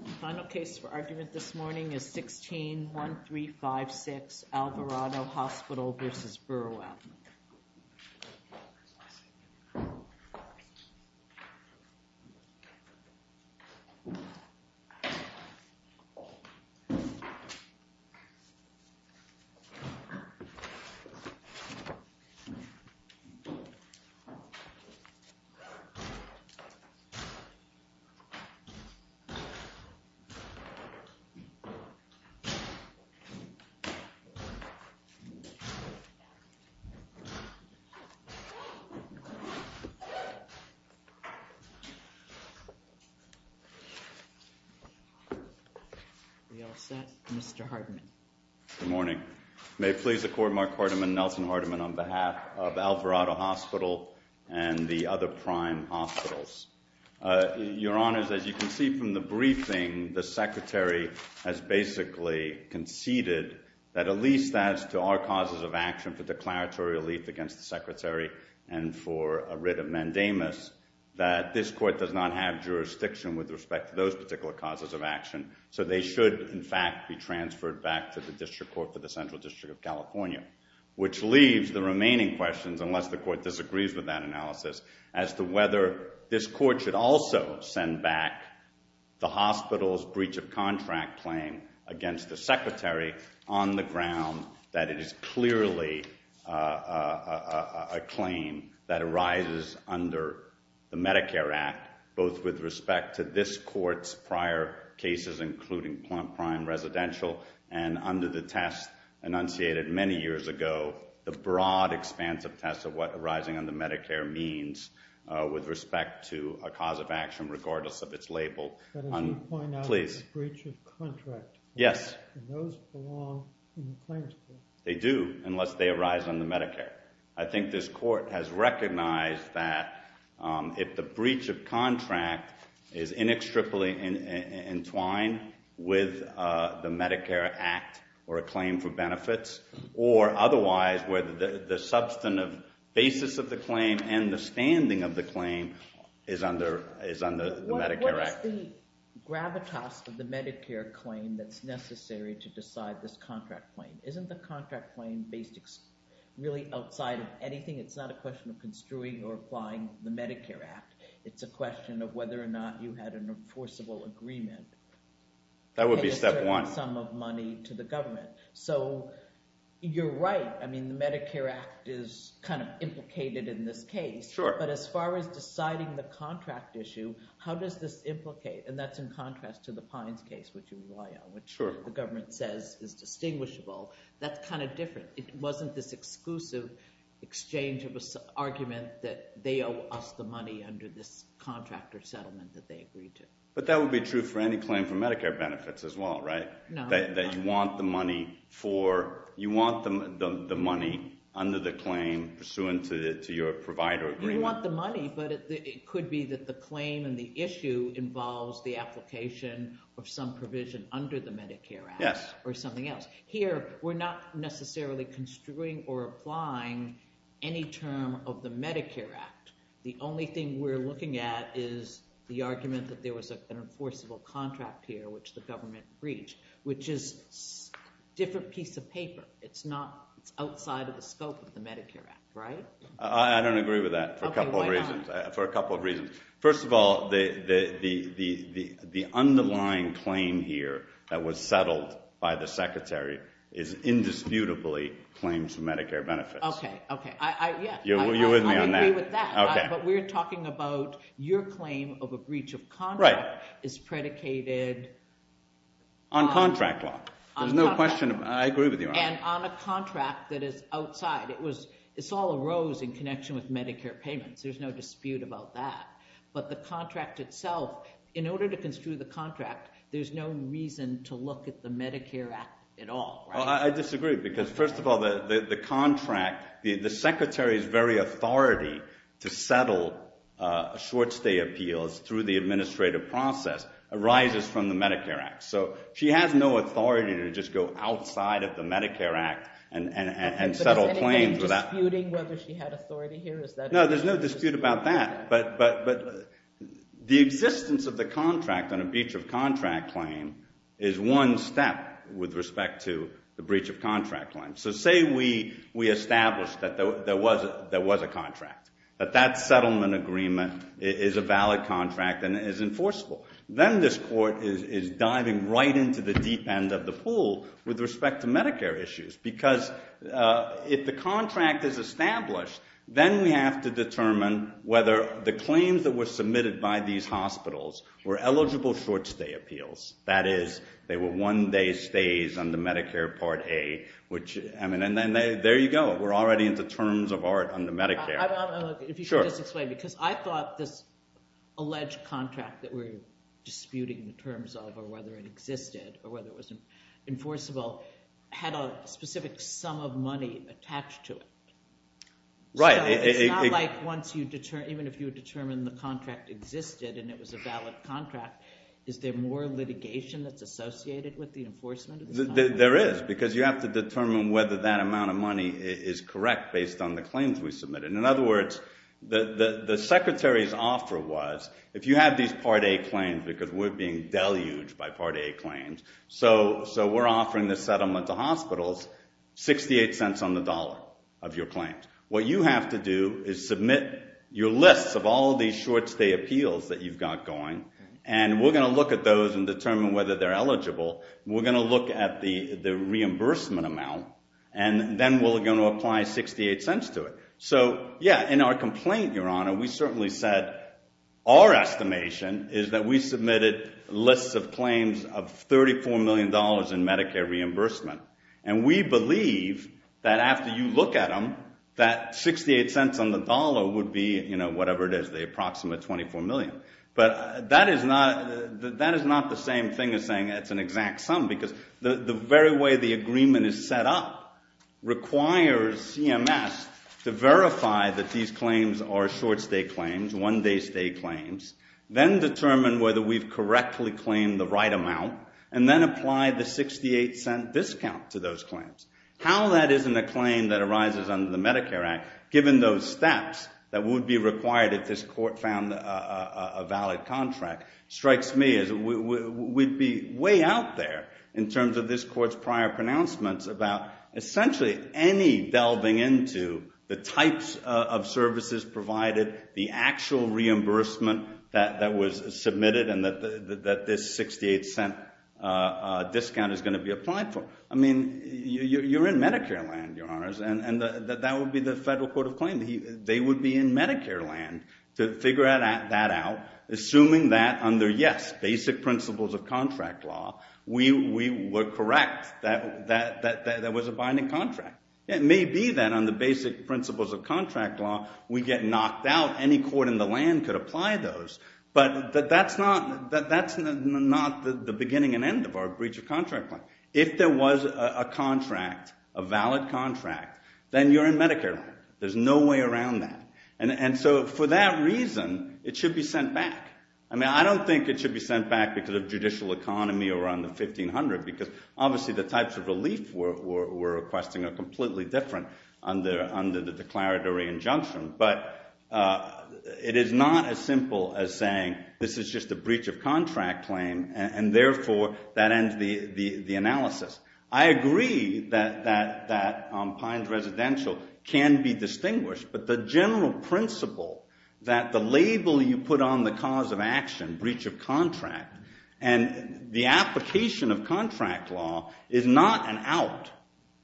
The final case for argument this morning is 16-1356 Alvarado Hospital v. Burwell. Mr. Hartman. Good morning. May it please the Court, Mark Hartman, Nelson Hartman on behalf of Alvarado Hospital and the other prime hospitals. Your Honors, as you can see from the briefing, the Secretary has basically conceded that at least as to our causes of action for declaratory relief against the Secretary and for a writ of mandamus, that this Court does not have jurisdiction with respect to those particular causes of action. So they should in fact be transferred back to the District Court for the Central District of California, which leaves the remaining questions, unless the Court disagrees with that analysis, as to whether this Court should also send back the hospital's breach of contract claim against the Secretary on the ground that it is clearly a claim that arises under the Medicare Act, both with respect to this Court's prior cases, including Plante Prime Residential and under the test enunciated many years ago, the broad expanse of tests of what arising under Medicare means with respect to a cause of action, regardless of its label. But as you point out, it's a breach of contract, and those belong in the claims case. They do, unless they arise under Medicare. I think this Court has recognized that if the breach of contract is inextricably entwined with the Medicare Act or a claim for benefits, or otherwise, where the substantive basis of the claim and the standing of the claim is under the Medicare Act. What is the gravitas of the Medicare claim that's necessary to decide this contract claim? Isn't the contract claim based really outside of anything? It's not a question of construing or applying the Medicare Act. It's a question of whether or not you had an enforceable agreement. That would be step one. Paying a certain sum of money to the government. So you're right. I mean, the Medicare Act is kind of implicated in this case. Sure. But as far as deciding the contract issue, how does this implicate? And that's in contrast to the Pines case, which you rely on, which the government says is distinguishable. That's kind of different. It wasn't this exclusive exchange of argument that they owe us the money under this contract or settlement that they agreed to. But that would be true for any claim for Medicare benefits as well, right? No. That you want the money for, you want the money under the claim pursuant to your provider agreement. You want the money, but it could be that the claim and the issue involves the application of some provision under the Medicare Act. Yes. Or something else. Here, we're not necessarily construing or applying any term of the Medicare Act. The only thing we're looking at is the argument that there was an enforceable contract here, which the government breached, which is a different piece of paper. It's not, it's outside of the scope of the Medicare Act, right? I don't agree with that for a couple of reasons. Okay, why not? Well, first of all, the underlying claim here that was settled by the Secretary is indisputably claims for Medicare benefits. Okay, okay. I, yeah. You're with me on that. I agree with that. Okay. But we're talking about your claim of a breach of contract is predicated on... On contract law. There's no question, I agree with you on that. And on a contract that is outside. It was, it's all arose in connection with Medicare payments. There's no dispute about that. But the contract itself, in order to construe the contract, there's no reason to look at the Medicare Act at all, right? Well, I disagree. Because first of all, the contract, the Secretary's very authority to settle a short-stay appeals through the administrative process arises from the Medicare Act. So she has no authority to just go outside of the Medicare Act and settle claims without... Well, there's no dispute about that. But the existence of the contract on a breach of contract claim is one step with respect to the breach of contract claim. So say we established that there was a contract, that that settlement agreement is a valid contract and is enforceable. Then this court is diving right into the deep end of the pool with respect to Medicare issues. Because if the contract is established, then we have to determine whether the claims that were submitted by these hospitals were eligible short-stay appeals. That is, they were one-day stays on the Medicare Part A, which, I mean, and there you go. We're already into terms of art on the Medicare. If you could just explain, because I thought this alleged contract that we're disputing in terms of or whether it existed or whether it was enforceable had a specific sum of money attached to it. Right. So it's not like once you determine, even if you determine the contract existed and it was a valid contract, is there more litigation that's associated with the enforcement? There is, because you have to determine whether that amount of money is correct based on the claims we submitted. In other words, the Secretary's offer was, if you had these Part A claims because we're being deluged by Part A claims, so we're offering this settlement to hospitals, 68 cents on the dollar of your claims. What you have to do is submit your lists of all of these short-stay appeals that you've got going, and we're going to look at those and determine whether they're eligible. We're going to look at the reimbursement amount, and then we're going to apply 68 cents to it. So, yeah, in our complaint, Your Honor, we certainly said our estimation is that we submitted lists of claims of $34 million in Medicare reimbursement. And we believe that after you look at them, that 68 cents on the dollar would be, you know, whatever it is, the approximate $24 million. But that is not the same thing as saying it's an exact sum, because the very way the agreement is set up requires CMS to verify that these claims are short-stay claims, one-day-stay claims, then determine whether we've correctly claimed the right amount, and then apply the 68-cent discount to those claims. How that isn't a claim that arises under the Medicare Act, given those steps, that would be required if this Court found a valid contract, strikes me as we'd be way out there in terms of this Court's prior pronouncements about essentially any delving into the types of services provided, the actual reimbursement that was submitted, and that this 68-cent discount is going to be applied for. I mean, you're in Medicare land, Your Honors, and that would be the federal court of claim. They would be in Medicare land to figure that out, assuming that under, yes, basic principles of contract law, we were correct that there was a binding contract. It may be that under basic principles of contract law, we get knocked out. Any court in the land could apply those, but that's not the beginning and end of our breach of contract plan. If there was a contract, a valid contract, then you're in Medicare land. There's no way around that. And so for that reason, it should be sent back. I mean, I don't think it should be sent back because of judicial economy or on the 1500, because obviously the types of relief we're requesting are completely different under the declaratory injunction, but it is not as simple as saying this is just a breach of contract claim, and therefore that ends the analysis. I agree that Pine's residential can be distinguished, but the general principle that the label you put on the cause of action, breach of contract, and the application of contract law is not an out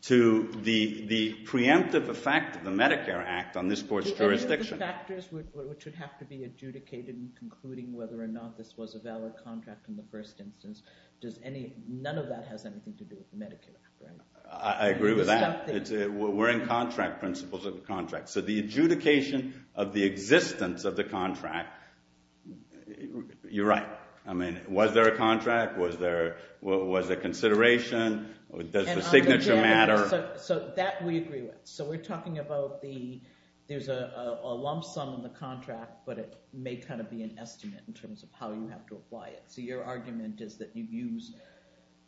to the preemptive effect of the Medicare Act on this court's jurisdiction. And if the factors which would have to be adjudicated in concluding whether or not this was a valid contract in the first instance, does any, none of that has anything to do with the Medicare Act. I agree with that. We're in contract principles of the contract. So the adjudication of the existence of the contract, you're right. I mean, was there a contract? Was there a consideration? Does the signature matter? So that we agree with. So we're talking about the, there's a lump sum in the contract, but it may kind of be an estimate in terms of how you have to apply it. So your argument is that you use,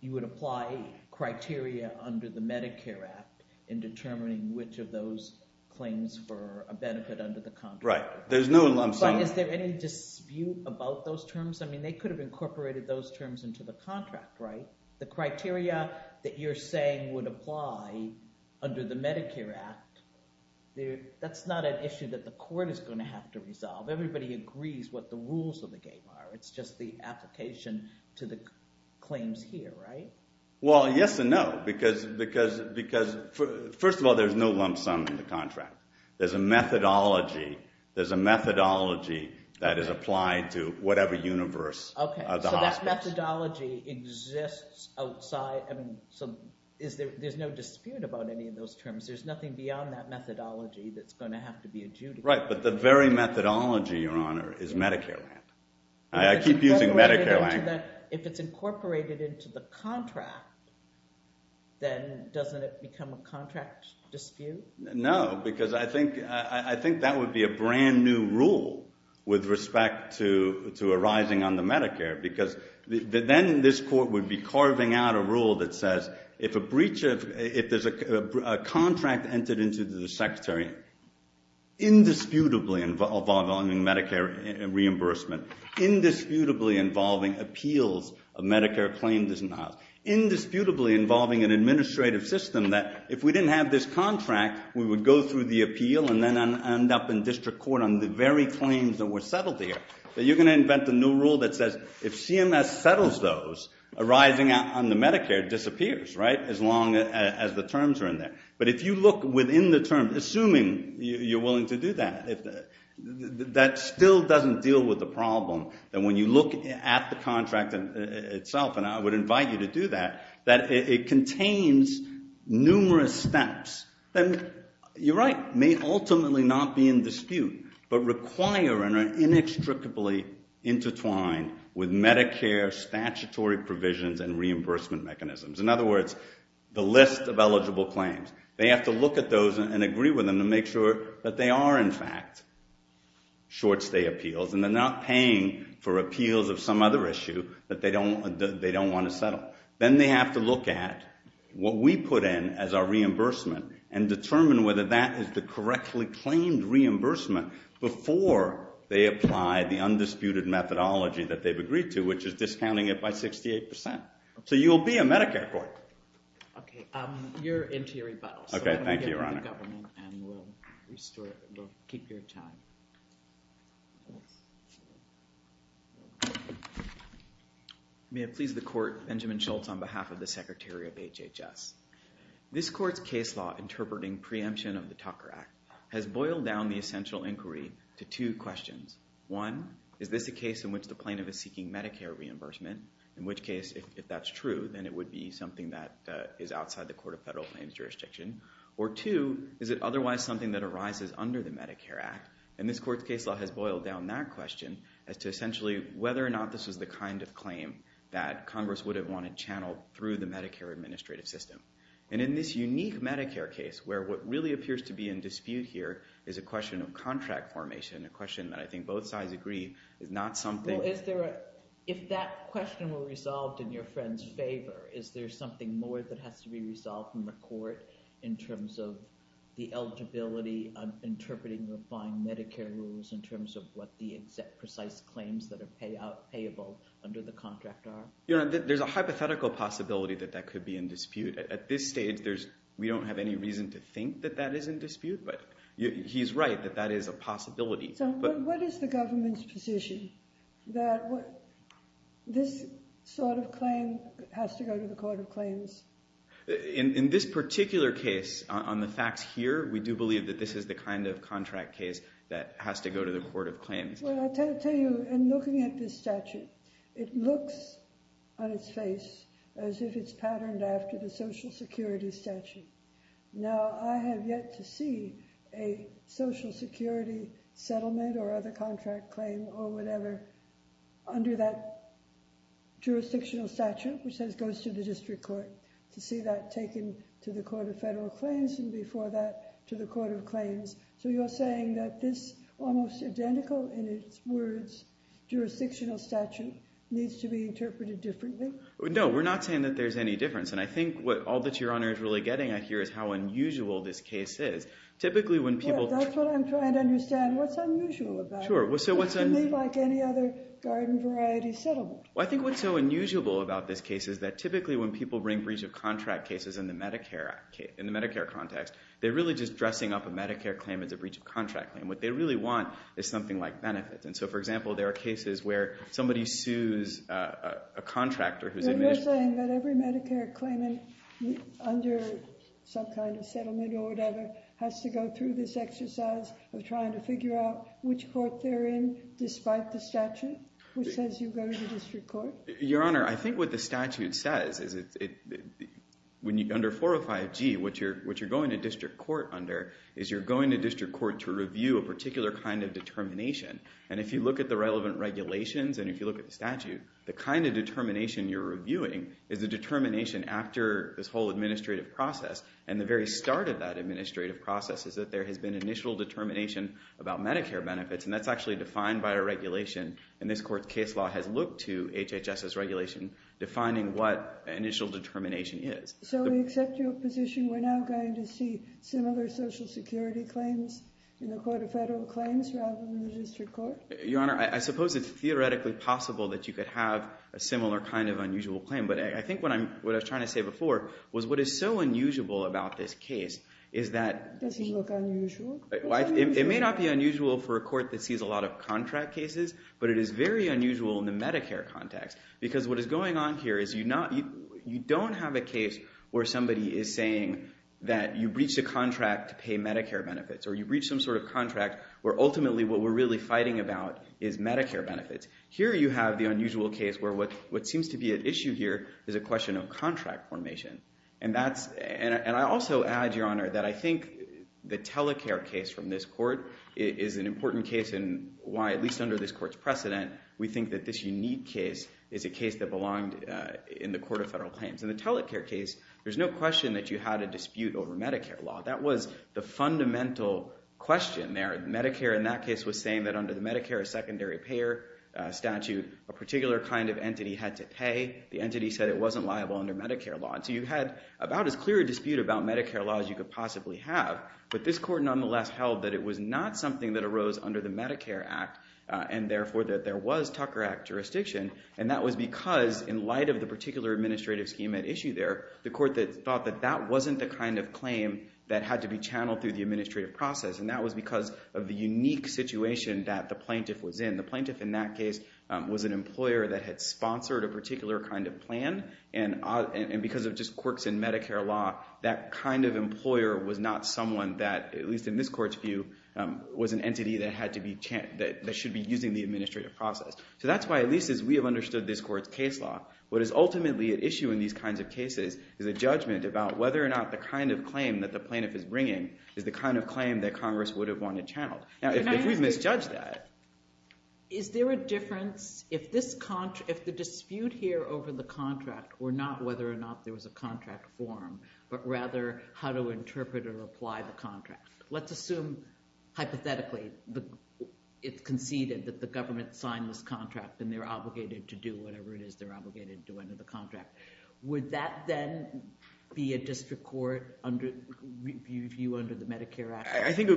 you would apply criteria under the Medicare Act in determining which of those claims for a benefit under the contract. Right. There's no lump sum. But is there any dispute about those terms? I mean, they could have incorporated those terms into the contract, right? The criteria that you're saying would apply under the Medicare Act, that's not an issue that the court is going to have to resolve. Everybody agrees what the rules of the game are. It's just the application to the claims here, right? Well, yes and no, because, because, because first of all, there's no lump sum in the contract. There's a methodology, there's a methodology that is applied to whatever universe of the hospice. So that methodology exists outside, I mean, is there, there's no dispute about any of those terms. There's nothing beyond that methodology that's going to have to be adjudicated. Right. But the very methodology, Your Honor, is Medicare land. I keep using Medicare land. But if it's incorporated into the contract, then doesn't it become a contract dispute? No, because I think, I think that would be a brand new rule with respect to, to arising on the Medicare, because then this court would be carving out a rule that says if a breach of, if there's a contract entered into the Medicare reimbursement, indisputably involving appeals of Medicare claim disavowals, indisputably involving an administrative system that if we didn't have this contract, we would go through the appeal and then end up in district court on the very claims that were settled here. But you're going to invent a new rule that says if CMS settles those, arising on the Medicare disappears, right, as long as the terms are in there. But if you look within the terms, assuming you're willing to do that, if that still doesn't deal with the problem, then when you look at the contract itself, and I would invite you to do that, that it contains numerous steps that, you're right, may ultimately not be in dispute, but require and are inextricably intertwined with Medicare statutory provisions and reimbursement mechanisms. In other words, the list of eligible claims. They have to look at those and agree with them to make sure that they are, in fact, short stay appeals and they're not paying for appeals of some other issue that they don't want to settle. Then they have to look at what we put in as our reimbursement and determine whether that is the correctly claimed reimbursement before they apply the undisputed methodology that they've agreed to, which is discounting it by 68%. So you'll be a Medicare court. Okay, your interior rebuttal. Okay, thank you, Your Honor. And we'll restore, we'll keep your time. May it please the Court, Benjamin Schultz on behalf of the Secretary of HHS. This Court's case law interpreting preemption of the Tucker Act has boiled down the essential inquiry to two questions. One, is this a case in which the plaintiff is seeking Medicare reimbursement? In which case, if that's true, then it would be something that is outside the Court of Federal Claims jurisdiction. Or two, is it otherwise something that arises under the Medicare Act? And this Court's case law has boiled down that question as to essentially whether or not this was the kind of claim that Congress would have wanted channeled through the Medicare administrative system. And in this unique Medicare case where what really appears to be in dispute here is a question of contract formation, a question that I think both sides agree is not something... Well, is there a... If that question were resolved in your friend's favor, is there something more that has to be resolved in the Court in terms of the eligibility of interpreting the fine Medicare rules in terms of what the exact precise claims that are payable under the contract are? Your Honor, there's a hypothetical possibility that that could be in dispute. At this stage, we don't have any reason to think that that is in dispute, but he's right, that that is a possibility. So what is the government's position that this sort of claim has to go to the Court of Claims? In this particular case, on the facts here, we do believe that this is the kind of contract case that has to go to the Court of Claims. Well, I'll tell you, in looking at this statute, it looks on its face as if it's patterned after the Social Security statute. Now, I have yet to see a Social Security settlement or other contract claim or whatever under that jurisdictional statute, which goes to the District Court, to see that taken to the Court of Federal Claims and before that to the Court of Claims. So you're saying that this almost identical, in its words, jurisdictional statute needs to be interpreted differently? No, we're not saying that there's any difference. And I think what all that Your Honor is really getting at here is how unusual this case is. Typically when people... That's what I'm trying to understand. What's unusual about it? Sure. It's not to me like any other garden variety settlement. Well, I think what's so unusual about this case is that typically when people bring breach of contract cases in the Medicare context, they're really just dressing up a Medicare claim as a breach of contract claim. What they really want is something like benefits. And so, for example, there are cases where somebody sues a contractor who's... But you're saying that every Medicare claimant under some kind of settlement or whatever has to go through this exercise of trying to figure out which court they're in despite the statute, which says you go to the District Court? Your Honor, I think what the statute says is under 405G, what you're going to District Court under is you're going to District Court to review a particular kind of determination. And if you look at the relevant regulations and if you look at the statute, the kind of determination you're reviewing is the determination after this whole administrative process. And the very start of that administrative process is that there has been initial determination about Medicare benefits. And that's actually defined by a regulation. And this court's case law has looked to HHS's regulation defining what initial determination is. So we accept your position we're now going to see similar Social Security claims in the Court of Federal Claims rather than the District Court? Your Honor, I suppose it's theoretically possible that you could have a similar kind of unusual claim. But I think what I was trying to say before was what is so unusual about this case is that... Doesn't look unusual? It may not be unusual for a court that sees a lot of contract cases, but it is very unusual in the Medicare context. Because what is going on here is you don't have a case where somebody is saying that you breached a contract to pay Medicare benefits or you breached some sort of contract where ultimately what we're really fighting about is Medicare benefits. Here you have the unusual case where what seems to be at issue here is a question of contract formation. And I also add, Your Honor, that I think the Telecare case from this court is an important case in why, at least under this court's precedent, we think that this unique case is a case that belonged in the Court of Federal Claims. In the Telecare case, there's no question that you had a dispute over Medicare law. That was the fundamental question there. Medicare in that case was saying that under the Medicare secondary payer statute, a particular kind of entity had to pay. The entity said it wasn't liable under Medicare law. And so you had about as clear a dispute about Medicare law as you could possibly have. But this court nonetheless held that it was not something that arose under the Medicare Act and therefore that there was Tucker Act jurisdiction. And that was because, in light of the particular administrative scheme at issue there, the court thought that that wasn't the kind of claim that had to be channeled through the administrative process. And that was because of the unique situation that the plaintiff was in. The plaintiff in that case was an employer that had sponsored a particular kind of plan. And because of just quirks in Medicare law, that kind of employer was not someone that, at least in this court's view, was an entity that should be using the administrative process. So that's why, at least as we have understood this court's case law, what is ultimately at issue in these kinds of cases is a judgment about whether or not the kind of claim that the plaintiff is bringing is the kind of claim that Congress would have wanted channeled. Now, if we've misjudged that, is there a difference if the dispute here over the contract were not whether or not there was a contract form, but rather how to interpret or apply the contract? Let's assume, hypothetically, it's conceded that the government signed this contract and they're obligated to do whatever it is they're obligated to do under the contract. Would that then be a district court view under the Medicare Act? I think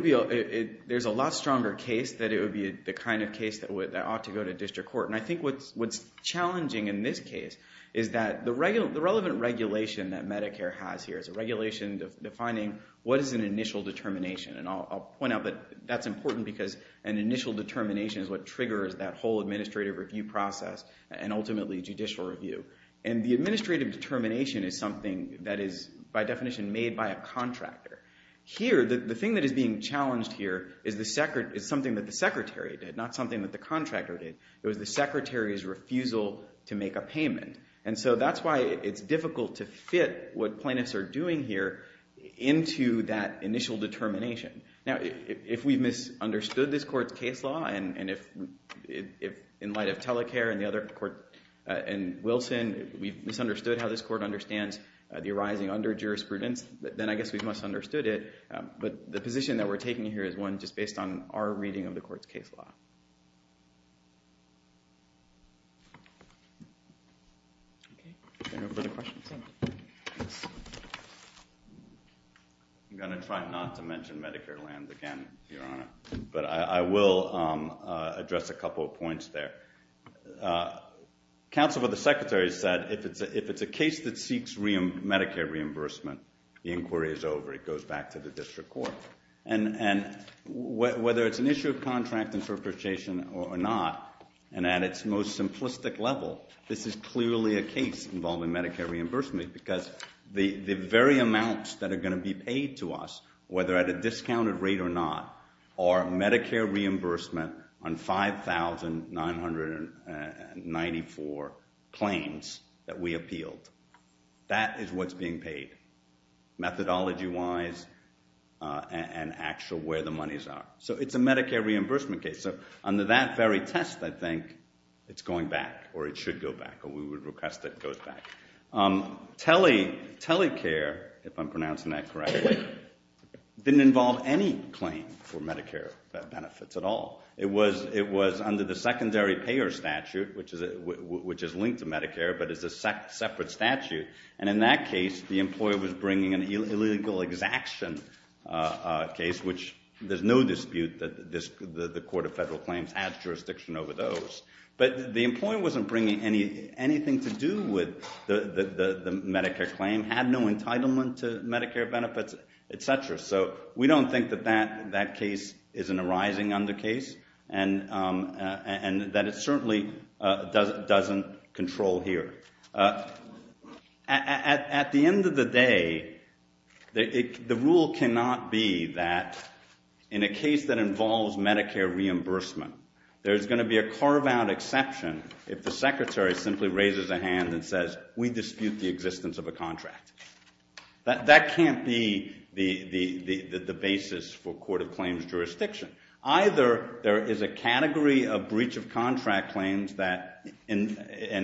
there's a lot stronger case that it would be the kind of case that ought to go to district court. And I think what's challenging in this case is that the relevant regulation that Medicare has here is a regulation defining what is an initial determination. And I'll point out that that's important because an initial determination is what triggers that whole administrative review process and ultimately judicial review. And the administrative determination is something that is, by definition, made by a contractor. Here, the thing that is being challenged here is something that the Secretary did, not something that the contractor did. It was the Secretary's refusal to make a payment. And so that's why it's difficult to fit what plaintiffs are doing here into that initial determination. Now, if we've misunderstood this court's case law, and if, in light of Telecare and Wilson, we've misunderstood how this court understands the arising under jurisprudence, then I guess we've misunderstood it. But the position that we're taking here is one just based on our reading of the court's case law. I'm going to try not to mention Medicare land again, Your Honor. But I will address a couple of points there. Counsel for the Secretary said, if it's a case that seeks Medicare reimbursement, the inquiry is over. It goes back to the district court. And whether it's an issue of contract interpretation or not, and at its most simplistic level, this is clearly a case involving Medicare reimbursement because the very amounts that are going to be paid to us, whether at a discounted rate or not, are Medicare reimbursement on 5,994 claims that we appealed. That is what's being paid, methodology-wise and actual where the monies are. So it's a Medicare reimbursement case. So under that very test, I think, it's going back, or it should go back, or we would request that it goes back. Telecare, if I'm pronouncing that correctly, didn't involve any claim for Medicare benefits at all. It was under the secondary payer statute, which is linked to Medicare but is a separate statute. And in that case, the employer was bringing an illegal exaction case, which there's no dispute that the Court of Federal Claims has jurisdiction over those. But the employer wasn't bringing anything to do with the Medicare claim, had no entitlement to Medicare benefits, et cetera. So we don't think that that case is an arising under case and that it certainly doesn't control here. At the end of the day, the rule cannot be that in a case that involves Medicare reimbursement, there's going to be a carve-out exception if the Secretary simply raises a hand and says, we dispute the existence of a contract. That can't be the basis for Court of Claims jurisdiction. Either there is a category of breach of contract claims that, and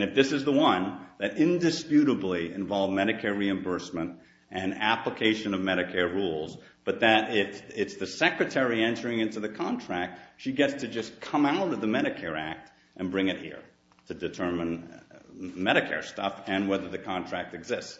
if this is the one, that indisputably involve Medicare reimbursement and application of Medicare rules, but that it's the Secretary entering into the contract, she gets to just come out of the Medicare Act and bring it here to determine Medicare stuff and whether the contract exists.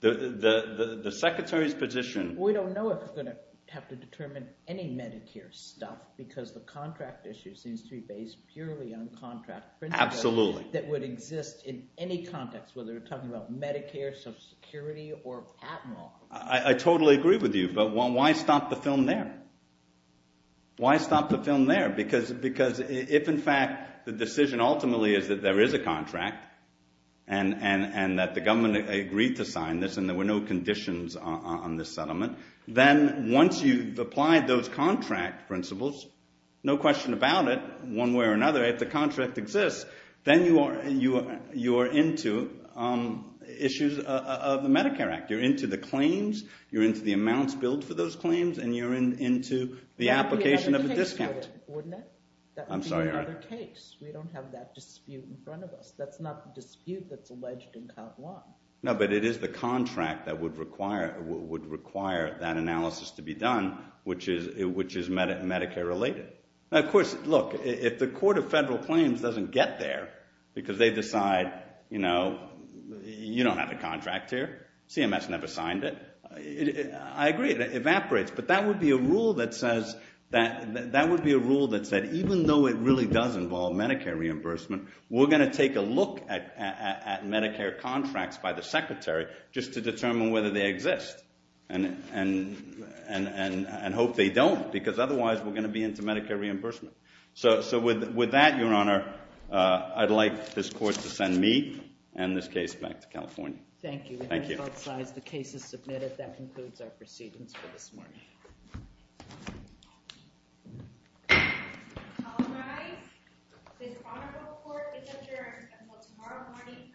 The Secretary's position... We don't know if we're going to have to determine any Medicare stuff because the contract issue seems to be based purely on contract principles that would exist in any context, whether we're talking about Medicare, Social Security, or Admiral. I totally agree with you, but why stop the film there? Why stop the film there? Because if in fact the decision ultimately is that there is a contract and that the government agreed to sign this and there were no conditions on this settlement, then once you've applied those contract principles, no question about it, one way or another, if the contract exists, then you are into issues of the Medicare Act. You're into the claims, you're into the amounts billed for those claims, and you're into the application of a discount. That would be another case. We don't have that dispute in front of us. That's not the dispute that's alleged in Count Long. No, but it is the contract that would require that analysis to be done, which is Medicare related. Of course, look, if the Court of Federal Claims doesn't get there because they evaporates. But that would be a rule that said, even though it really does involve Medicare reimbursement, we're going to take a look at Medicare contracts by the Secretary just to determine whether they exist and hope they don't, because otherwise we're going to be into Medicare reimbursement. So with that, Your Honor, I'd like this Court to send me and this case back to California. Thank you. Thank you. The case is submitted. That concludes our proceedings for this morning. I apologize. The Honorable Court is adjourned until tomorrow morning at 10 a.m.